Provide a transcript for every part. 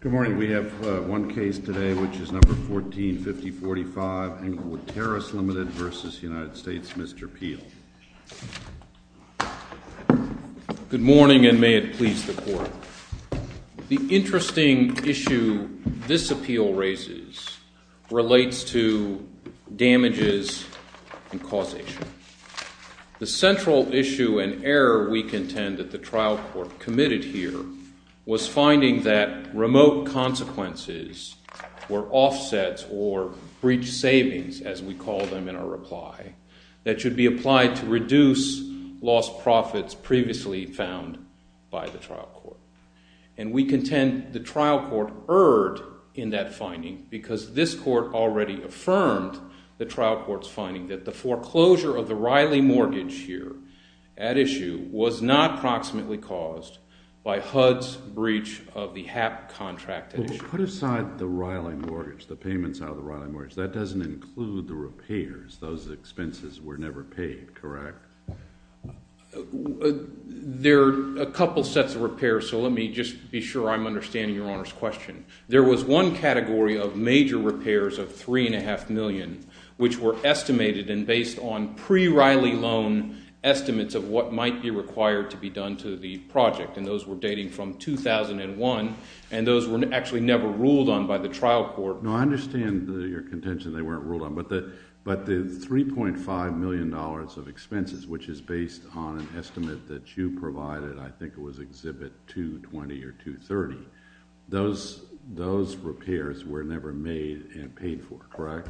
Good morning. We have one case today, which is No. 14-5045, Englewood Terrace Limited v. United States. Mr. Peel. Good morning, and may it please the Court. The interesting issue this appeal raises relates to damages and causation. The central issue and error we contend that the trial court committed here was finding that remote consequences were offsets or breach savings, as we call them in our reply, that should be applied to reduce lost profits previously found by the trial court. And we contend the trial court erred in that finding because this court already affirmed the trial court's finding that the foreclosure of the Riley mortgage here at issue was not proximately caused by HUD's breach of the HAP contract at issue. Put aside the Riley mortgage, the payments out of the Riley mortgage. That doesn't include the repairs. Those expenses were never paid, correct? There are a couple sets of repairs, so let me just be sure I'm understanding Your Honor's question. There was one category of major repairs of $3.5 million, which were estimated and based on pre-Riley loan estimates of what might be required to be done to the project, and those were dating from 2001, and those were actually never ruled on by the trial court. No, I understand your contention they weren't ruled on, but the $3.5 million of expenses, which is based on an estimate that you provided, I think it was Exhibit 220 or 230, those repairs were never made and paid for, correct?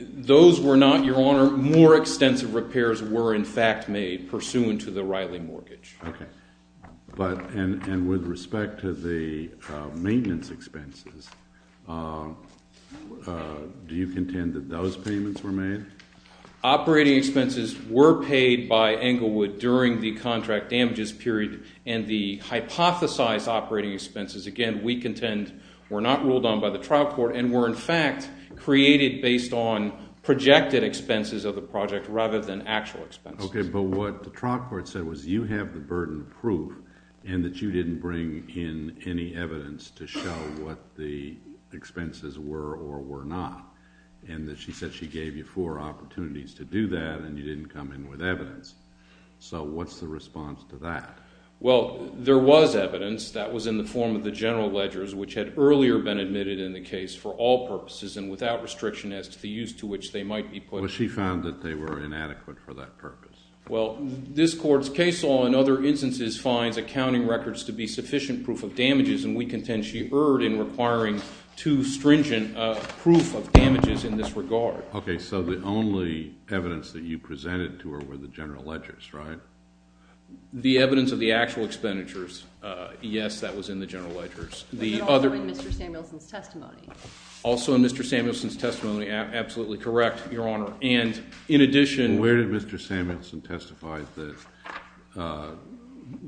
Those were not, Your Honor. More extensive repairs were, in fact, made pursuant to the Riley mortgage. And with respect to the maintenance expenses, do you contend that those payments were made? Operating expenses were paid by Englewood during the contract damages period, and the hypothesized operating expenses, again, we contend were not ruled on by the trial court and were, in fact, created based on projected expenses of the project rather than actual expenses. Okay, but what the trial court said was you have the burden of proof and that you didn't bring in any evidence to show what the expenses were or were not, and that she said she gave you four opportunities to do that and you didn't come in with evidence. So what's the response to that? Well, there was evidence. That was in the form of the general ledgers, which had earlier been admitted in the case for all purposes and without restriction as to the use to which they might be put. Well, she found that they were inadequate for that purpose. Well, this court's case law, in other instances, finds accounting records to be sufficient proof of damages, and we contend she erred in requiring too stringent proof of damages in this regard. Okay, so the only evidence that you presented to her were the general ledgers, right? The evidence of the actual expenditures, yes, that was in the general ledgers. But also in Mr. Samuelson's testimony. Also in Mr. Samuelson's testimony, absolutely correct, Your Honor. And in addition— Where did Mr. Samuelson testify that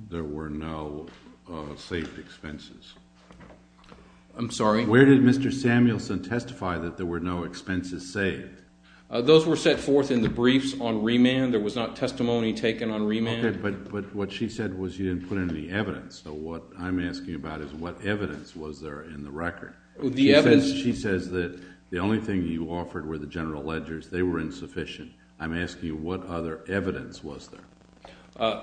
there were no saved expenses? I'm sorry? Where did Mr. Samuelson testify that there were no expenses saved? Those were set forth in the briefs on remand. There was not testimony taken on remand. Okay, but what she said was you didn't put in any evidence. So what I'm asking about is what evidence was there in the record? The evidence— She says that the only thing that you offered were the general ledgers. They were insufficient. I'm asking what other evidence was there?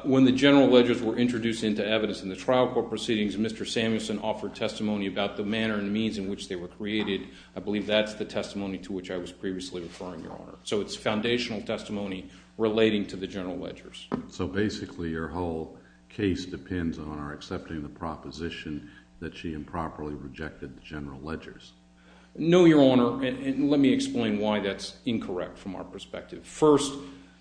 When the general ledgers were introduced into evidence in the trial court proceedings, Mr. Samuelson offered testimony about the manner and means in which they were created. I believe that's the testimony to which I was previously referring, Your Honor. So it's foundational testimony relating to the general ledgers. So basically your whole case depends on our accepting the proposition that she improperly rejected the general ledgers. No, Your Honor. And let me explain why that's incorrect from our perspective. First,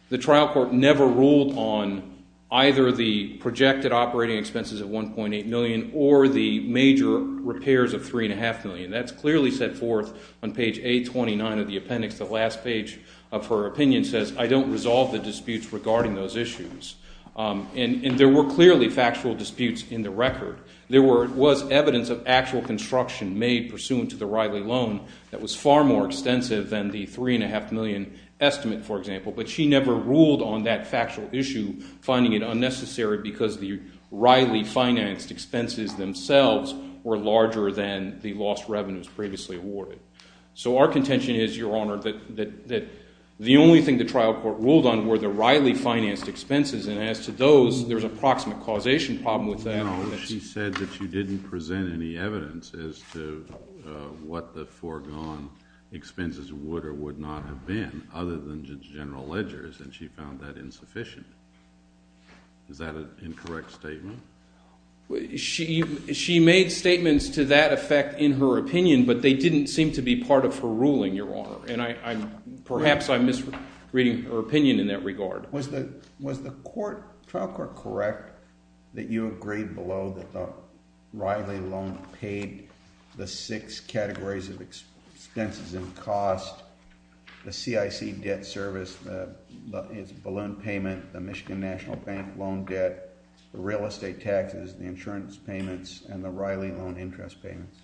the trial court never ruled on either the projected operating expenses of $1.8 million or the major repairs of $3.5 million. That's clearly set forth on page 829 of the appendix. The last page of her opinion says, I don't resolve the disputes regarding those issues. And there were clearly factual disputes in the record. There was evidence of actual construction made pursuant to the Riley loan that was far more extensive than the $3.5 million estimate, for example. But she never ruled on that factual issue, finding it unnecessary because the Riley-financed expenses themselves were larger than the lost revenues previously awarded. So our contention is, Your Honor, that the only thing the trial court ruled on were the Riley-financed expenses. And as to those, there's a proximate causation problem with that. Well, she said that she didn't present any evidence as to what the foregone expenses would or would not have been, other than the general ledgers. And she found that insufficient. Is that an incorrect statement? She made statements to that effect in her opinion, but they didn't seem to be part of her ruling, Your Honor. And perhaps I'm misreading her opinion in that regard. Was the trial court correct that you agreed below that the Riley loan paid the six categories of expenses and cost, the CIC debt service, the balloon payment, the Michigan National Bank loan debt, the real estate taxes, the insurance payments, and the Riley loan interest payments?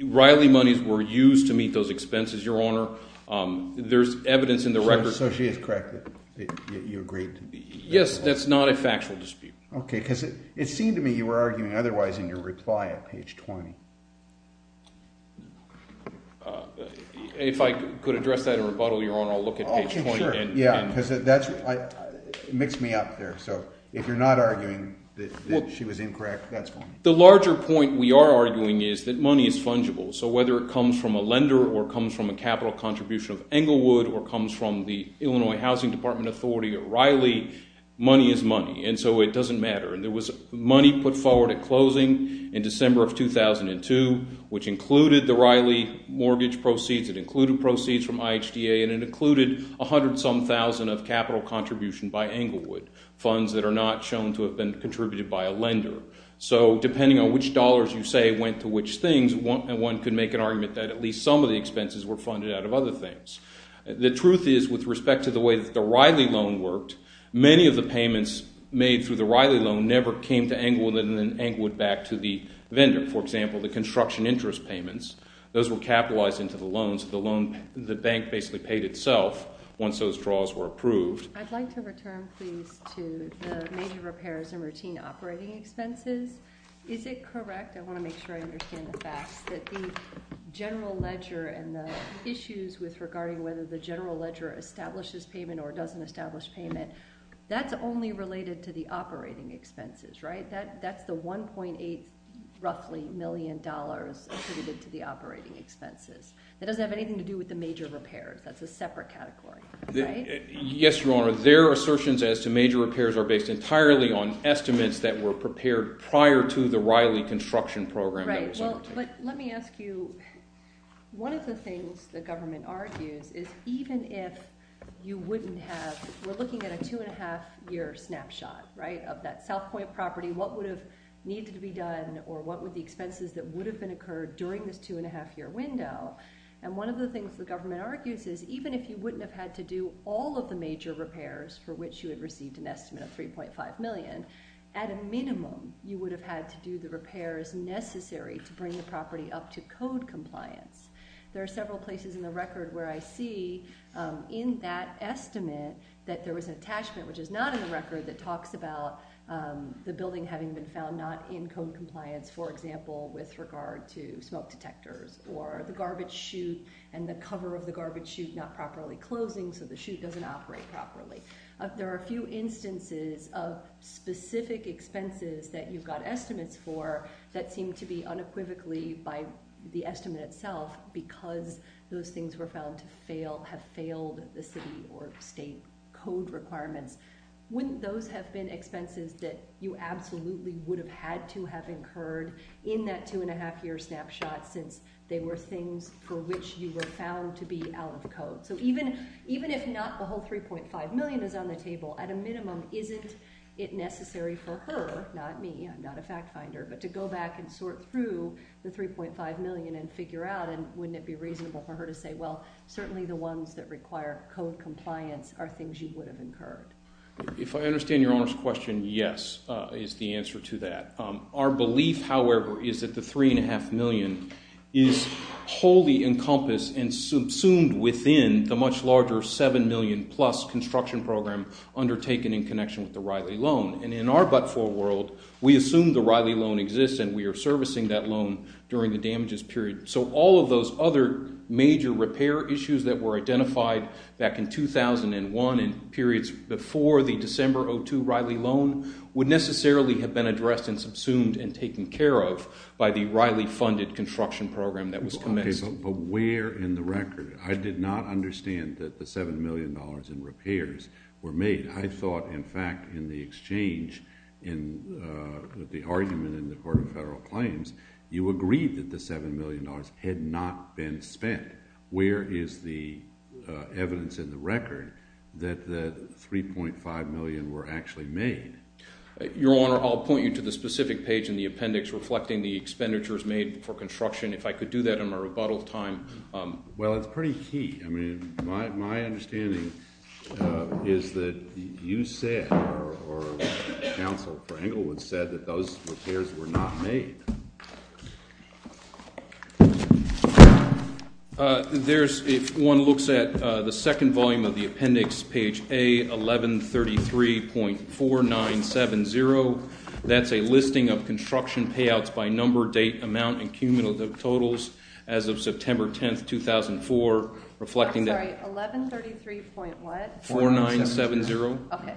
Riley monies were used to meet those expenses, Your Honor. There's evidence in the record. So she is correct that you agreed to that? Yes, that's not a factual dispute. Okay, because it seemed to me you were arguing otherwise in your reply at page 20. If I could address that in rebuttal, Your Honor, I'll look at page 20. Okay, sure. Yeah, because that's – it mixed me up there. So if you're not arguing that she was incorrect, that's fine. The larger point we are arguing is that money is fungible. So whether it comes from a lender or comes from a capital contribution of Englewood or comes from the Illinois Housing Department Authority or Riley, money is money, and so it doesn't matter. And there was money put forward at closing in December of 2002, which included the Riley mortgage proceeds. It included proceeds from IHDA, and it included 100-some thousand of capital contribution by Englewood, funds that are not shown to have been contributed by a lender. So depending on which dollars you say went to which things, one could make an argument that at least some of the expenses were funded out of other things. The truth is, with respect to the way that the Riley loan worked, many of the payments made through the Riley loan never came to Englewood and then Englewood back to the vendor. For example, the construction interest payments, those were capitalized into the loan, so the loan – the bank basically paid itself once those draws were approved. I'd like to return, please, to the major repairs and routine operating expenses. Is it correct – I want to make sure I understand the facts – that the general ledger and the issues regarding whether the general ledger establishes payment or doesn't establish payment, that's only related to the operating expenses, right? That's the $1.8 roughly million attributed to the operating expenses. That doesn't have anything to do with the major repairs. That's a separate category, right? Yes, Your Honor. Their assertions as to major repairs are based entirely on estimates that were prepared prior to the Riley construction program. Right. But let me ask you, one of the things the government argues is even if you wouldn't have – we're looking at a two-and-a-half-year snapshot of that South Point property. What would have needed to be done or what would the expenses that would have been occurred during this two-and-a-half-year window? And one of the things the government argues is even if you wouldn't have had to do all of the major repairs for which you had received an estimate of $3.5 million, at a minimum you would have had to do the repairs necessary to bring the property up to code compliance. There are several places in the record where I see in that estimate that there was an attachment, which is not in the record, that talks about the building having been found not in code compliance, for example, with regard to smoke detectors or the garbage chute and the cover of the garbage chute not properly closing so the chute doesn't operate properly. There are a few instances of specific expenses that you've got estimates for that seem to be unequivocally by the estimate itself because those things were found to have failed the city or state code requirements. Wouldn't those have been expenses that you absolutely would have had to have incurred in that two-and-a-half-year snapshot since they were things for which you were found to be out of code? So even if not the whole $3.5 million is on the table, at a minimum isn't it necessary for her, not me, I'm not a fact finder, but to go back and sort through the $3.5 million and figure out and wouldn't it be reasonable for her to say, well, certainly the ones that require code compliance are things you would have incurred? If I understand Your Honor's question, yes, is the answer to that. Our belief, however, is that the $3.5 million is wholly encompassed and subsumed within the much larger $7 million plus construction program undertaken in connection with the Riley loan. And in our but-for world, we assume the Riley loan exists and we are servicing that loan during the damages period. So all of those other major repair issues that were identified back in 2001 and periods before the December of 2002 Riley loan would necessarily have been addressed and subsumed and taken care of by the Riley funded construction program that was commenced. Okay, but where in the record? I did not understand that the $7 million in repairs were made. I thought, in fact, in the exchange in the argument in the Court of Federal Claims, you agreed that the $7 million had not been spent. Where is the evidence in the record that the $3.5 million were actually made? Your Honor, I'll point you to the specific page in the appendix reflecting the expenditures made for construction. If I could do that in my rebuttal time. Well, it's pretty key. I mean, my understanding is that you said or counsel Frankel had said that those repairs were not made. There's one looks at the second volume of the appendix. Page a 1133.4970. That's a listing of construction payouts by number, date, amount and cumulative totals as of September 10th, 2004. Reflecting 1133.4970. Okay.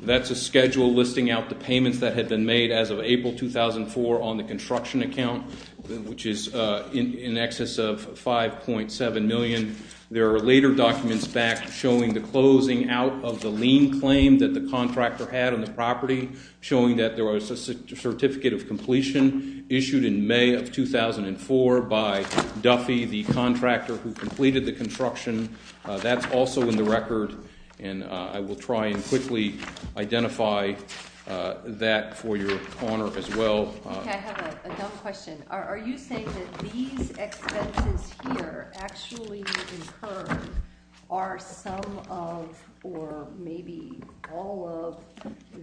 That's a schedule listing out the payments that had been made as of April 2004 on the construction account, which is in excess of 5.7 million. There are later documents back showing the closing out of the lien claim that the contractor had on the property, showing that there was a certificate of completion issued in May of 2004 by Duffy, the contractor who completed the construction. That's also in the record. And I will try and quickly identify that for your honor as well. I have a question. Are you saying that these expenses here actually are some of or maybe all of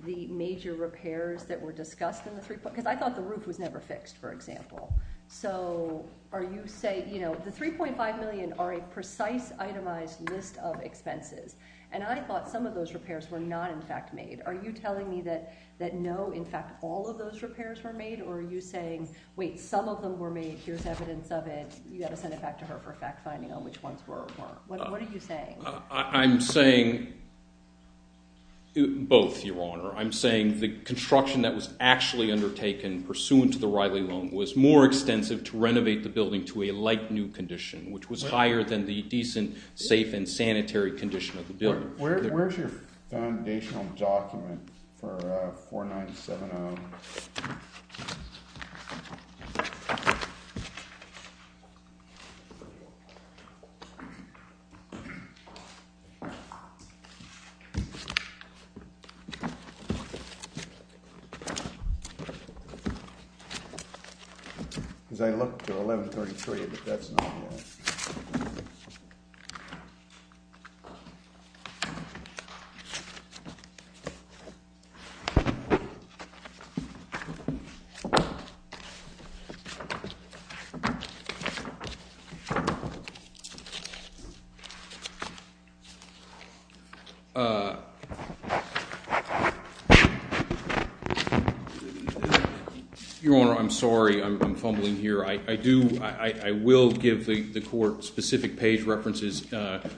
the major repairs that were discussed in the three? Because I thought the roof was never fixed, for example. So are you saying, you know, the 3.5 million are a precise itemized list of expenses, and I thought some of those repairs were not in fact made. Are you telling me that no, in fact, all of those repairs were made? Or are you saying, wait, some of them were made. Here's evidence of it. You got to send it back to her for fact finding on which ones were or weren't. What are you saying? I'm saying both, your honor. I'm saying the construction that was actually undertaken pursuant to the Riley loan was more extensive to renovate the building to a light new condition, which was higher than the decent, safe and sanitary condition of the building. Where's your foundational document for 4970? That's not. Your honor, I'm sorry. I'm fumbling here. I do, I will give the court specific page references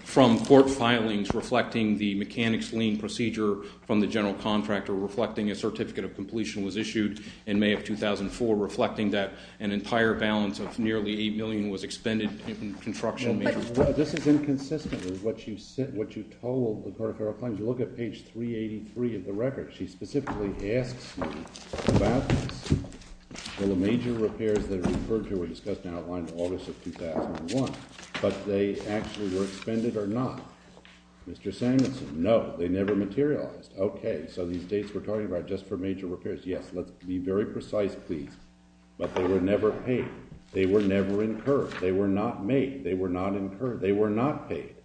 from court filings reflecting the mechanics lien procedure from the general contractor, reflecting a certificate of completion was issued in May of 2004, reflecting that an entire balance of nearly 8 million was expended in construction. This is inconsistent with what you said, what you told the court of federal claims. Look at page 383 of the record. She specifically asks you about the major repairs that are referred to were discussed and outlined in August of 2001, but they actually were expended or not. Mr. Samuelson, no, they never materialized. Okay. So these dates we're talking about just for major repairs. Yes. Let's be very precise, please. But they were never paid. They were never incurred. They were not made. They were not incurred. They were not paid.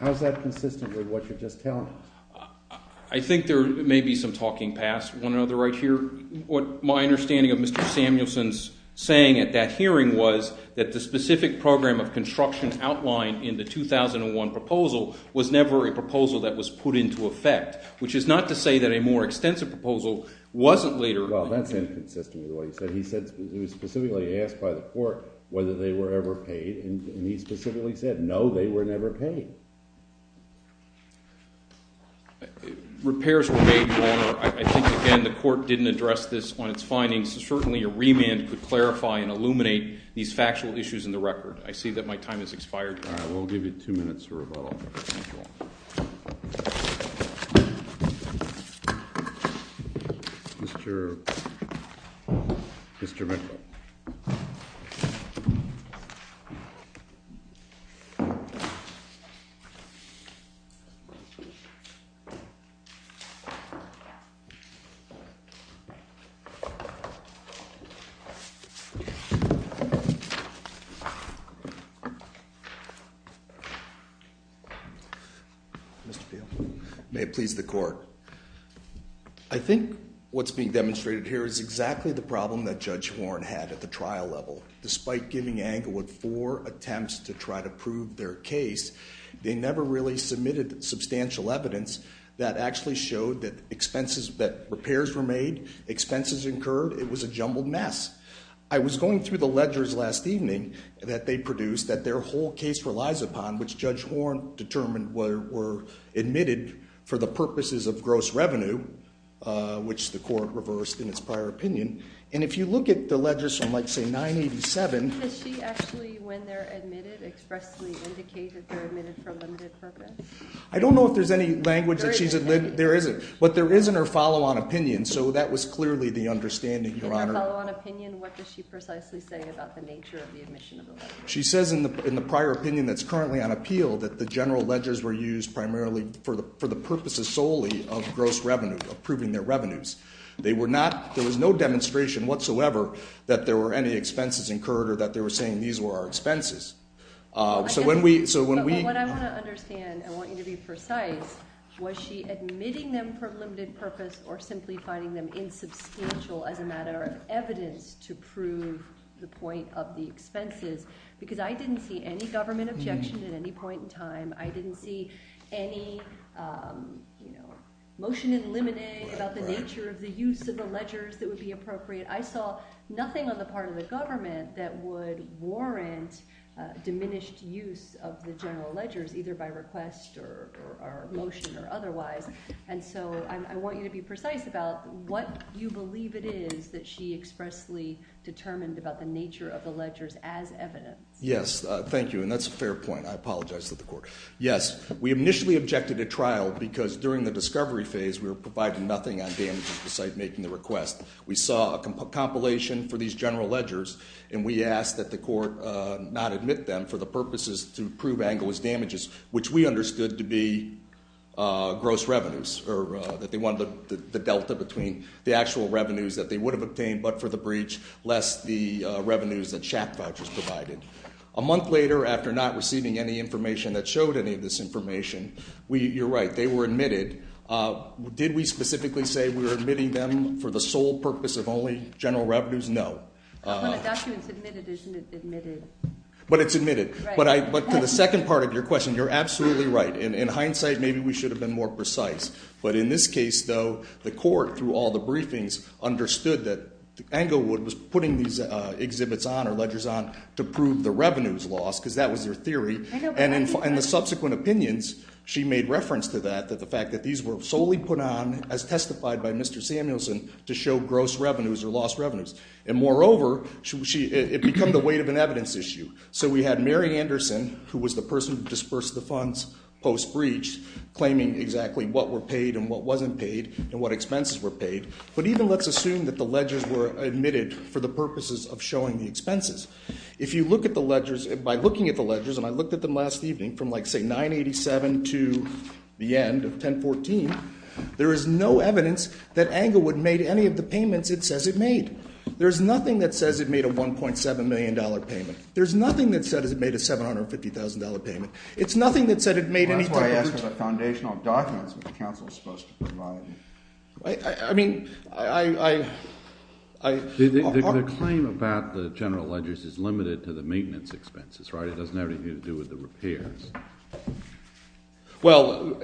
How is that consistent with what you're just telling us? I think there may be some talking past one another right here. What my understanding of Mr. Samuelson's saying at that hearing was that the specific program of construction outlined in the 2001 proposal was never a proposal that was put into effect, which is not to say that a more extensive proposal wasn't later. Well, that's inconsistent with what he said. He said he was specifically asked by the court whether they were ever paid, and he specifically said no, they were never paid. Repairs were made, Your Honor. I think, again, the court didn't address this on its findings, so certainly a remand could clarify and illuminate these factual issues in the record. I see that my time has expired. All right. We'll give you two minutes for rebuttal. Mr. Peel. May it please the court. I think what's being demonstrated here is exactly the problem that Judge Horn had at the trial level. Despite giving Anglewood four attempts to try to prove their case, they never really submitted substantial evidence that actually showed that repairs were made, expenses incurred. It was a jumbled mess. I was going through the ledgers last evening that they produced that their whole case relies upon, which Judge Horn determined were admitted for the purposes of gross revenue, which the court reversed in its prior opinion. And if you look at the ledgers from, like, say, 987. Does she actually, when they're admitted, expressly indicate that they're admitted for a limited purpose? I don't know if there's any language that she's – There isn't. There isn't. In her follow-on opinion, what does she precisely say about the nature of the admission of the ledger? She says in the prior opinion that's currently on appeal that the general ledgers were used primarily for the purposes solely of gross revenue, approving their revenues. They were not – there was no demonstration whatsoever that there were any expenses incurred or that they were saying these were our expenses. So when we – But what I want to understand, I want you to be precise, was she admitting them for a limited purpose or simply finding them insubstantial as a matter of evidence to prove the point of the expenses? Because I didn't see any government objection at any point in time. I didn't see any, you know, motion in limine about the nature of the use of the ledgers that would be appropriate. I saw nothing on the part of the government that would warrant diminished use of the general ledgers either by request or motion or otherwise. And so I want you to be precise about what you believe it is that she expressly determined about the nature of the ledgers as evidence. Yes, thank you. And that's a fair point. I apologize to the court. Yes, we initially objected at trial because during the discovery phase we were providing nothing on damages beside making the request. We saw a compilation for these general ledgers, and we asked that the court not admit them for the purposes to prove angle as damages, which we understood to be gross revenues or that they wanted the delta between the actual revenues that they would have obtained but for the breach, less the revenues that SHAP vouchers provided. A month later, after not receiving any information that showed any of this information, you're right, they were admitted. Did we specifically say we were admitting them for the sole purpose of only general revenues? No. When a document's admitted, it's admitted. But it's admitted. But to the second part of your question, you're absolutely right. In hindsight, maybe we should have been more precise. But in this case, though, the court, through all the briefings, understood that Englewood was putting these exhibits on or ledgers on to prove the revenues lost because that was their theory. And in the subsequent opinions, she made reference to that, that the fact that these were solely put on as testified by Mr. Samuelson to show gross revenues or lost revenues. And moreover, it became the weight of an evidence issue. So we had Mary Anderson, who was the person who dispersed the funds post-breach, claiming exactly what were paid and what wasn't paid and what expenses were paid. But even let's assume that the ledgers were admitted for the purposes of showing the expenses. If you look at the ledgers, by looking at the ledgers, and I looked at them last evening, from like, say, 987 to the end of 1014, there is no evidence that Englewood made any of the payments it says it made. There's nothing that says it made a $1.7 million payment. There's nothing that says it made a $750,000 payment. It's nothing that said it made any type of payment. That's why I ask for the foundational documents that the counsel is supposed to provide. I mean, I, I, I. The claim about the general ledgers is limited to the maintenance expenses, right? It doesn't have anything to do with the repairs. Well,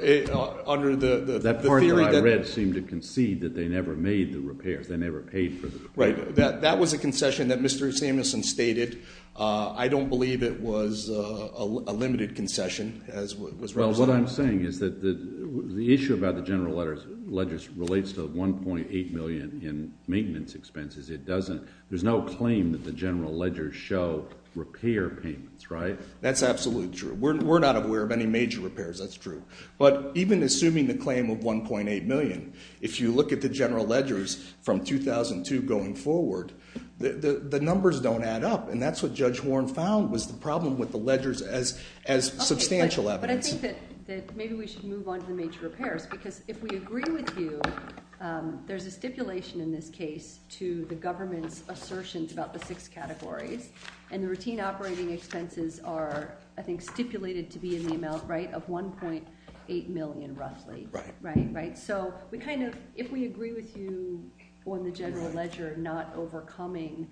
under the. That part that I read seemed to concede that they never made the repairs. They never paid for. Right. That was a concession that Mr. Samuelson stated. I don't believe it was a limited concession. Well, what I'm saying is that the issue about the general ledgers relates to the $1.8 million in maintenance expenses. It doesn't. There's no claim that the general ledgers show repair payments, right? That's absolutely true. We're not aware of any major repairs. That's true. But even assuming the claim of $1.8 million, if you look at the general ledgers from 2002 going forward, the numbers don't add up. And that's what Judge Warren found was the problem with the ledgers as, as substantial evidence. But I think that maybe we should move on to the major repairs. Because if we agree with you, there's a stipulation in this case to the government's assertions about the six categories. And the routine operating expenses are, I think, stipulated to be in the amount, right, of $1.8 million roughly. Right. Right. So we kind of, if we agree with you on the general ledger not overcoming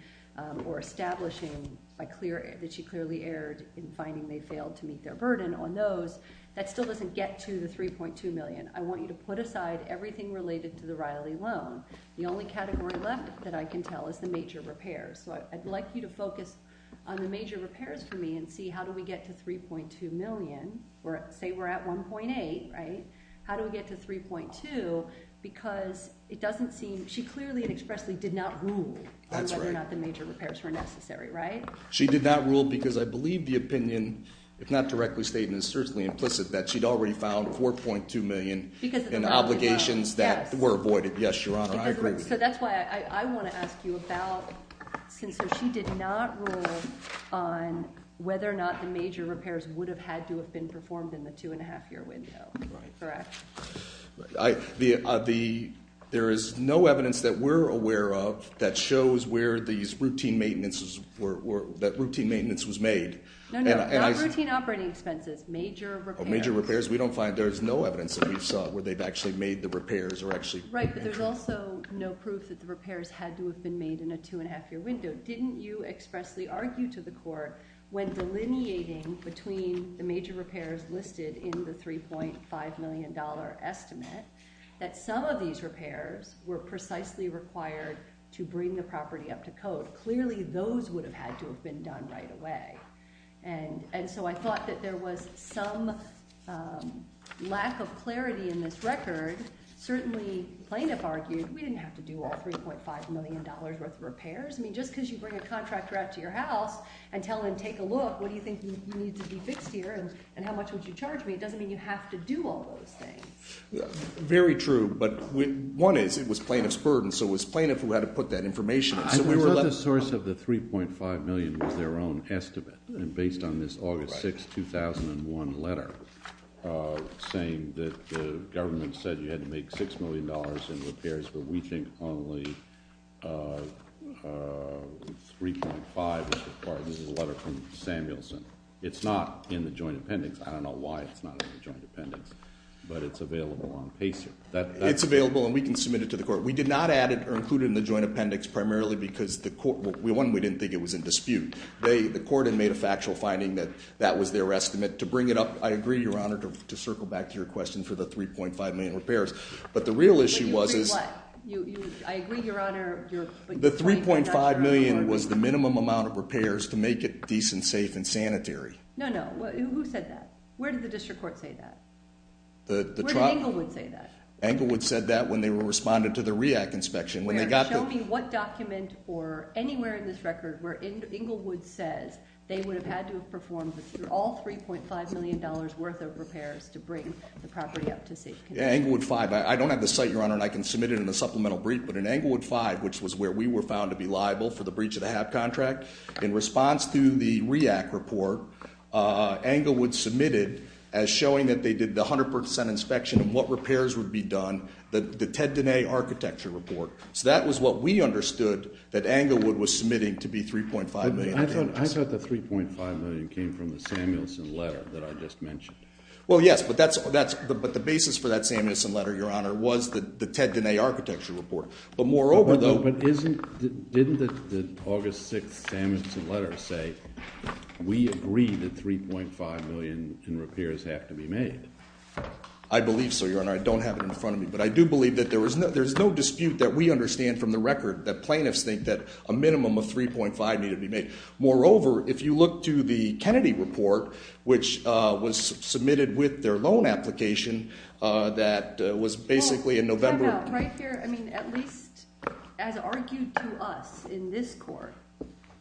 or establishing by clear, that she clearly erred in finding they failed to meet their burden on those, that still doesn't get to the $3.2 million. I want you to put aside everything related to the Riley loan. The only category left that I can tell is the major repairs. So I'd like you to focus on the major repairs for me and see how do we get to $3.2 million. Or say we're at $1.8, right? How do we get to $3.2? Because it doesn't seem, she clearly and expressly did not rule on whether or not the major repairs were necessary, right? She did not rule because I believe the opinion, if not directly stated, is certainly implicit that she'd already found $4.2 million in obligations that were avoided. Yes. Yes, Your Honor, I agree with you. So that's why I want to ask you about, since she did not rule on whether or not the major repairs would have had to have been performed in the two and a half year window, correct? There is no evidence that we're aware of that shows where these routine maintenance was made. No, no, not routine operating expenses, major repairs. Major repairs, we don't find. There's no evidence that we saw where they've actually made the repairs or actually- Right, but there's also no proof that the repairs had to have been made in a two and a half year window. Didn't you expressly argue to the court when delineating between the major repairs listed in the $3.5 million estimate that some of these repairs were precisely required to bring the property up to code? Clearly, those would have had to have been done right away. And so I thought that there was some lack of clarity in this record. Certainly, plaintiff argued we didn't have to do all $3.5 million worth of repairs. I mean, just because you bring a contractor out to your house and tell him, take a look, what do you think needs to be fixed here? And how much would you charge me? It doesn't mean you have to do all those things. Very true, but one is it was plaintiff's burden, so it was plaintiff who had to put that information in. I thought the source of the $3.5 million was their own estimate. And based on this August 6, 2001 letter saying that the government said you had to make $6 million in repairs, but we think only $3.5 is required in the letter from Samuelson. It's not in the joint appendix. I don't know why it's not in the joint appendix, but it's available on PACER. It's available and we can submit it to the court. We did not add it or include it in the joint appendix primarily because the court – one, we didn't think it was in dispute. The court had made a factual finding that that was their estimate. To bring it up, I agree, Your Honor, to circle back to your question for the $3.5 million repairs. But the real issue was – I agree, Your Honor. The $3.5 million was the minimum amount of repairs to make it decent, safe, and sanitary. No, no. Who said that? Where did the district court say that? Where did Englewood say that? Englewood said that when they were responding to the REAC inspection. Show me what document or anywhere in this record where Englewood says they would have had to have performed all $3.5 million worth of repairs to bring the property up to safety. Englewood 5. I don't have the site, Your Honor, and I can submit it in a supplemental brief. But in Englewood 5, which was where we were found to be liable for the breach of the HAB contract, in response to the REAC report, Englewood submitted, as showing that they did the 100% inspection of what repairs would be done, the Ted Diné architecture report. So that was what we understood that Englewood was submitting to be $3.5 million. I thought the $3.5 million came from the Samuelson letter that I just mentioned. Well, yes. But the basis for that Samuelson letter, Your Honor, was the Ted Diné architecture report. But moreover, though – But didn't the August 6th Samuelson letter say we agreed that $3.5 million in repairs have to be made? I believe so, Your Honor. I don't have it in front of me. But I do believe that there's no dispute that we understand from the record that plaintiffs think that a minimum of $3.5 million needed to be made. Moreover, if you look to the Kennedy report, which was submitted with their loan application, that was basically in November – Well, check out right here. I mean at least as argued to us in this court.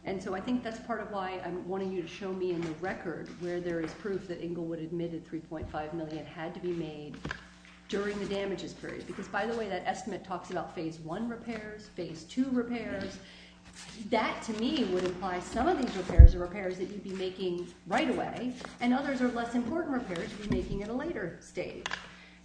And so I think that's part of why I'm wanting you to show me in the record where there is proof that Englewood admitted $3.5 million had to be made during the damages period. Because, by the way, that estimate talks about Phase I repairs, Phase II repairs. That, to me, would imply some of these repairs are repairs that you'd be making right away, and others are less important repairs you'd be making at a later stage.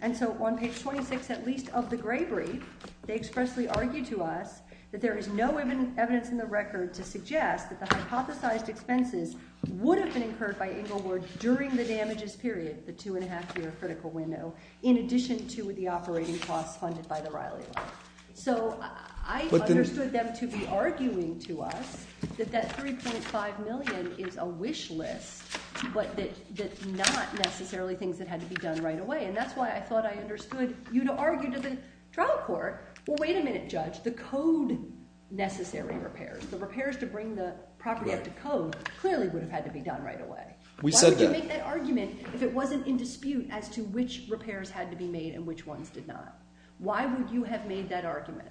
And so on page 26, at least, of the Gravery, they expressly argued to us that there is no evidence in the record to suggest that the hypothesized expenses would have been incurred by Englewood during the damages period – the two-and-a-half-year critical window – in addition to the operating costs funded by the Riley loan. So I understood them to be arguing to us that that $3.5 million is a wish list, but that not necessarily things that had to be done right away. And that's why I thought I understood you to argue to the trial court, well, wait a minute, Judge. The code-necessary repairs, the repairs to bring the property up to code, clearly would have had to be done right away. Why would you make that argument if it wasn't in dispute as to which repairs had to be made and which ones did not? Why would you have made that argument?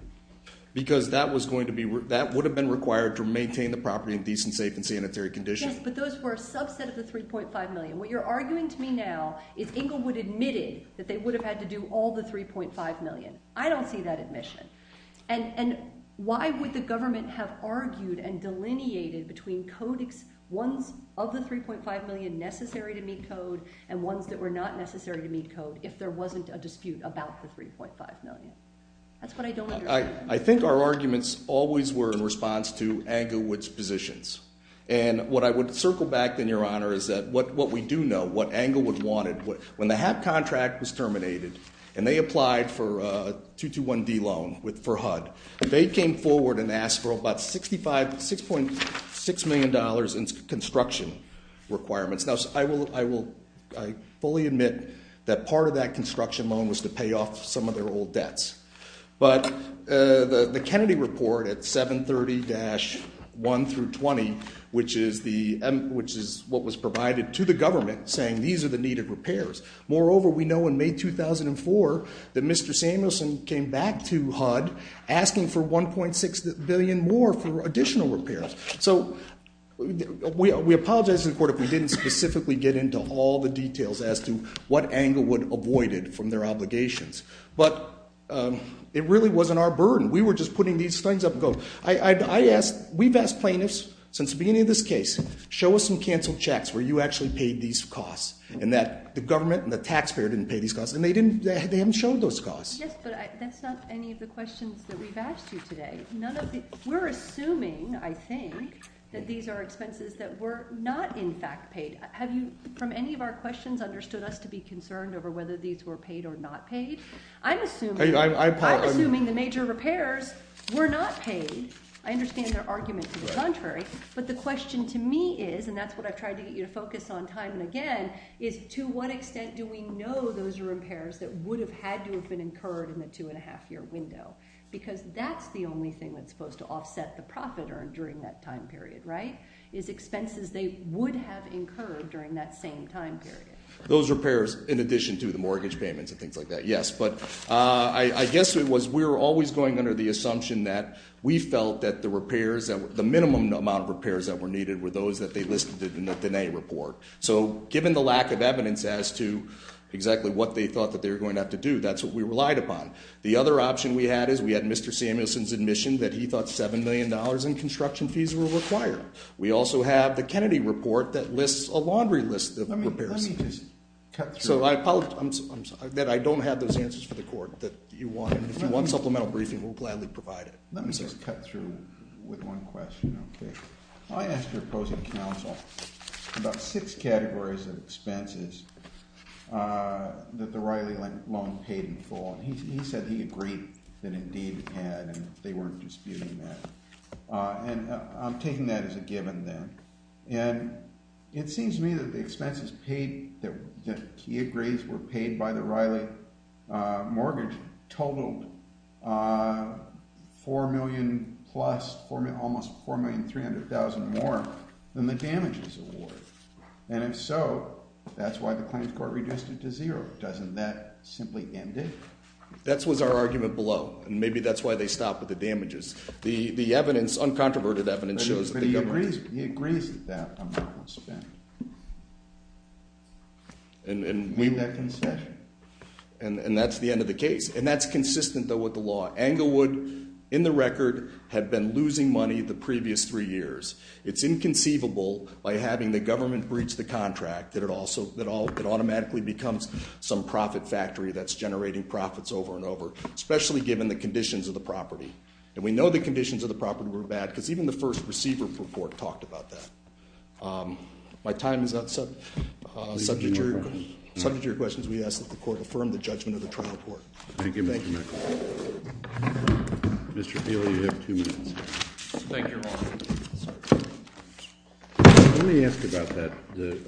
Because that was going to be – that would have been required to maintain the property in decent, safe, and sanitary conditions. Yes, but those were a subset of the $3.5 million. What you're arguing to me now is Englewood admitted that they would have had to do all the $3.5 million. I don't see that admission. And why would the government have argued and delineated between codex ones of the $3.5 million necessary to meet code and ones that were not necessary to meet code if there wasn't a dispute about the $3.5 million? That's what I don't understand. I think our arguments always were in response to Englewood's positions. And what I would circle back then, Your Honor, is that what we do know, what Englewood wanted, when the HAP contract was terminated and they applied for a 221D loan for HUD, they came forward and asked for about $6.6 million in construction requirements. Now, I will fully admit that part of that construction loan was to pay off some of their old debts. But the Kennedy report at 730-1 through 20, which is what was provided to the government, saying these are the needed repairs. Moreover, we know in May 2004 that Mr. Samuelson came back to HUD asking for $1.6 billion more for additional repairs. So we apologize to the court if we didn't specifically get into all the details as to what Englewood avoided from their obligations. But it really wasn't our burden. We were just putting these things up. We've asked plaintiffs since the beginning of this case, show us some canceled checks where you actually paid these costs, and that the government and the taxpayer didn't pay these costs, and they haven't shown those costs. Yes, but that's not any of the questions that we've asked you today. We're assuming, I think, that these are expenses that were not in fact paid. Have you, from any of our questions, understood us to be concerned over whether these were paid or not paid? I'm assuming the major repairs were not paid. I understand their argument to the contrary. But the question to me is, and that's what I've tried to get you to focus on time and again, is to what extent do we know those are repairs that would have had to have been incurred in the two-and-a-half-year window? Because that's the only thing that's supposed to offset the profit earned during that time period, right? Is expenses they would have incurred during that same time period. Those repairs, in addition to the mortgage payments and things like that, yes. But I guess it was, we were always going under the assumption that we felt that the minimum amount of repairs that were needed were those that they listed in the Diné report. So given the lack of evidence as to exactly what they thought that they were going to have to do, that's what we relied upon. The other option we had is we had Mr. Samuelson's admission that he thought $7 million in construction fees were required. We also have the Kennedy report that lists a laundry list of repairs. Let me just cut through. So I apologize that I don't have those answers for the court. If you want supplemental briefing, we'll gladly provide it. Let me just cut through with one question, okay? I asked your opposing counsel about six categories of expenses that the Riley loan paid in full. And he said he agreed that Indeed had, and they weren't disputing that. And I'm taking that as a given then. And it seems to me that the expenses paid, that he agrees were paid by the Riley mortgage, totaled $4 million plus, almost $4,300,000 more than the damages award. And if so, that's why the claims court reduced it to zero. Doesn't that simply end it? That was our argument below. And maybe that's why they stopped with the damages. The evidence, uncontroverted evidence, shows that the government- But he agrees with that amount spent. And that's the end of the case. And that's consistent, though, with the law. Englewood, in the record, had been losing money the previous three years. It's inconceivable, by having the government breach the contract, that it automatically becomes some profit factory that's generating profits over and over, especially given the conditions of the property. And we know the conditions of the property were bad, because even the first receiver report talked about that. My time is up. Subject to your questions, we ask that the court affirm the judgment of the trial court. Thank you, Mr. McLaughlin. Thank you, Your Honor. Let me ask you about that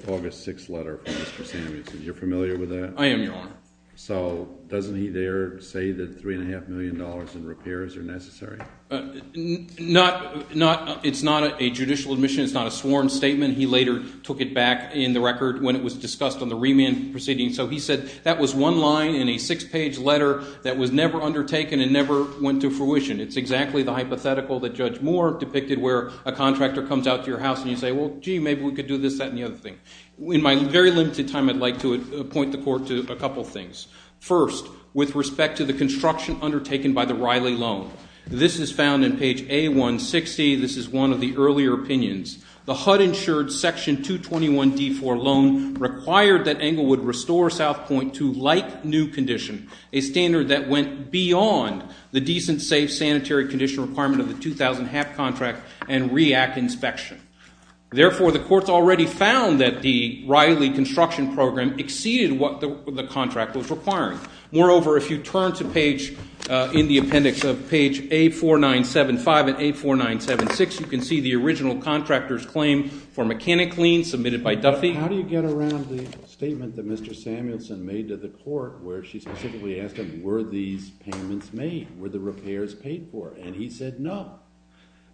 August 6th letter from Mr. Samuels. You're familiar with that? I am, Your Honor. So doesn't he there say that $3.5 million in repairs are necessary? It's not a judicial admission. It's not a sworn statement. He later took it back in the record when it was discussed on the remand proceeding. So he said that was one line in a six-page letter that was never undertaken and never went to fruition. It's exactly the hypothetical that Judge Moore depicted where a contractor comes out to your house and you say, well, gee, maybe we could do this, that, and the other thing. In my very limited time, I'd like to point the court to a couple things. First, with respect to the construction undertaken by the Riley loan, this is found in page A160. This is one of the earlier opinions. The HUD-insured Section 221D4 loan required that Englewood restore South Point to like-new condition, a standard that went beyond the decent, safe, sanitary condition requirement of the 2000 HAP contract and REAC inspection. Therefore, the court's already found that the Riley construction program exceeded what the contract was requiring. Moreover, if you turn to page ñ in the appendix of page A4975 and A4976, you can see the original contractor's claim for mechanic lien submitted by Duffy. How do you get around the statement that Mr. Samuelson made to the court where she specifically asked him, were these payments made? Were the repairs paid for? And he said no.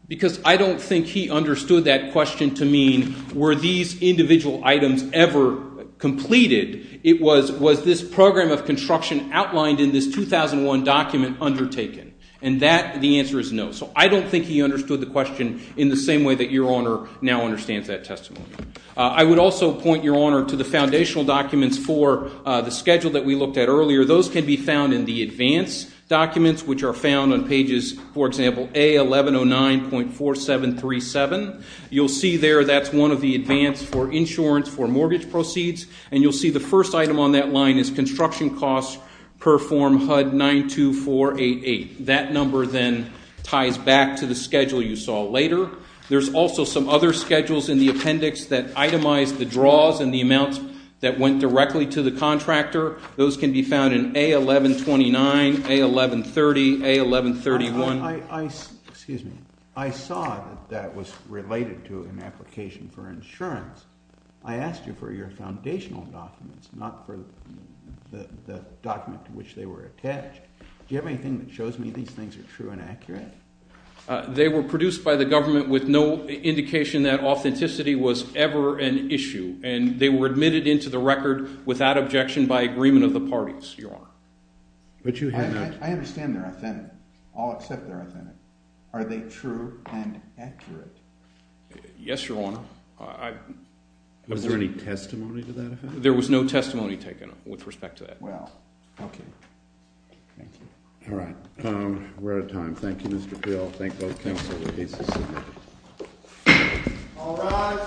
Because I don't think he understood that question to mean were these individual items ever completed? It was, was this program of construction outlined in this 2001 document undertaken? And that, the answer is no. So I don't think he understood the question in the same way that Your Honor now understands that testimony. I would also point Your Honor to the foundational documents for the schedule that we looked at earlier. Those can be found in the advance documents, which are found on pages, for example, A1109.4737. You'll see there that's one of the advance for insurance for mortgage proceeds, and you'll see the first item on that line is construction costs per form HUD-92488. That number then ties back to the schedule you saw later. There's also some other schedules in the appendix that itemize the draws and the amounts that went directly to the contractor. Those can be found in A1129, A1130, A1131. Excuse me. I saw that that was related to an application for insurance. I asked you for your foundational documents, not for the document to which they were attached. Do you have anything that shows me these things are true and accurate? They were produced by the government with no indication that authenticity was ever an issue, and they were admitted into the record without objection by agreement of the parties, Your Honor. I understand they're authentic. I'll accept they're authentic. Are they true and accurate? Yes, Your Honor. Was there any testimony to that effect? There was no testimony taken with respect to that. Well, okay. Thank you. All right. We're out of time. Thank you, Mr. Peel. Thank both counsel. The case is submitted. All rise.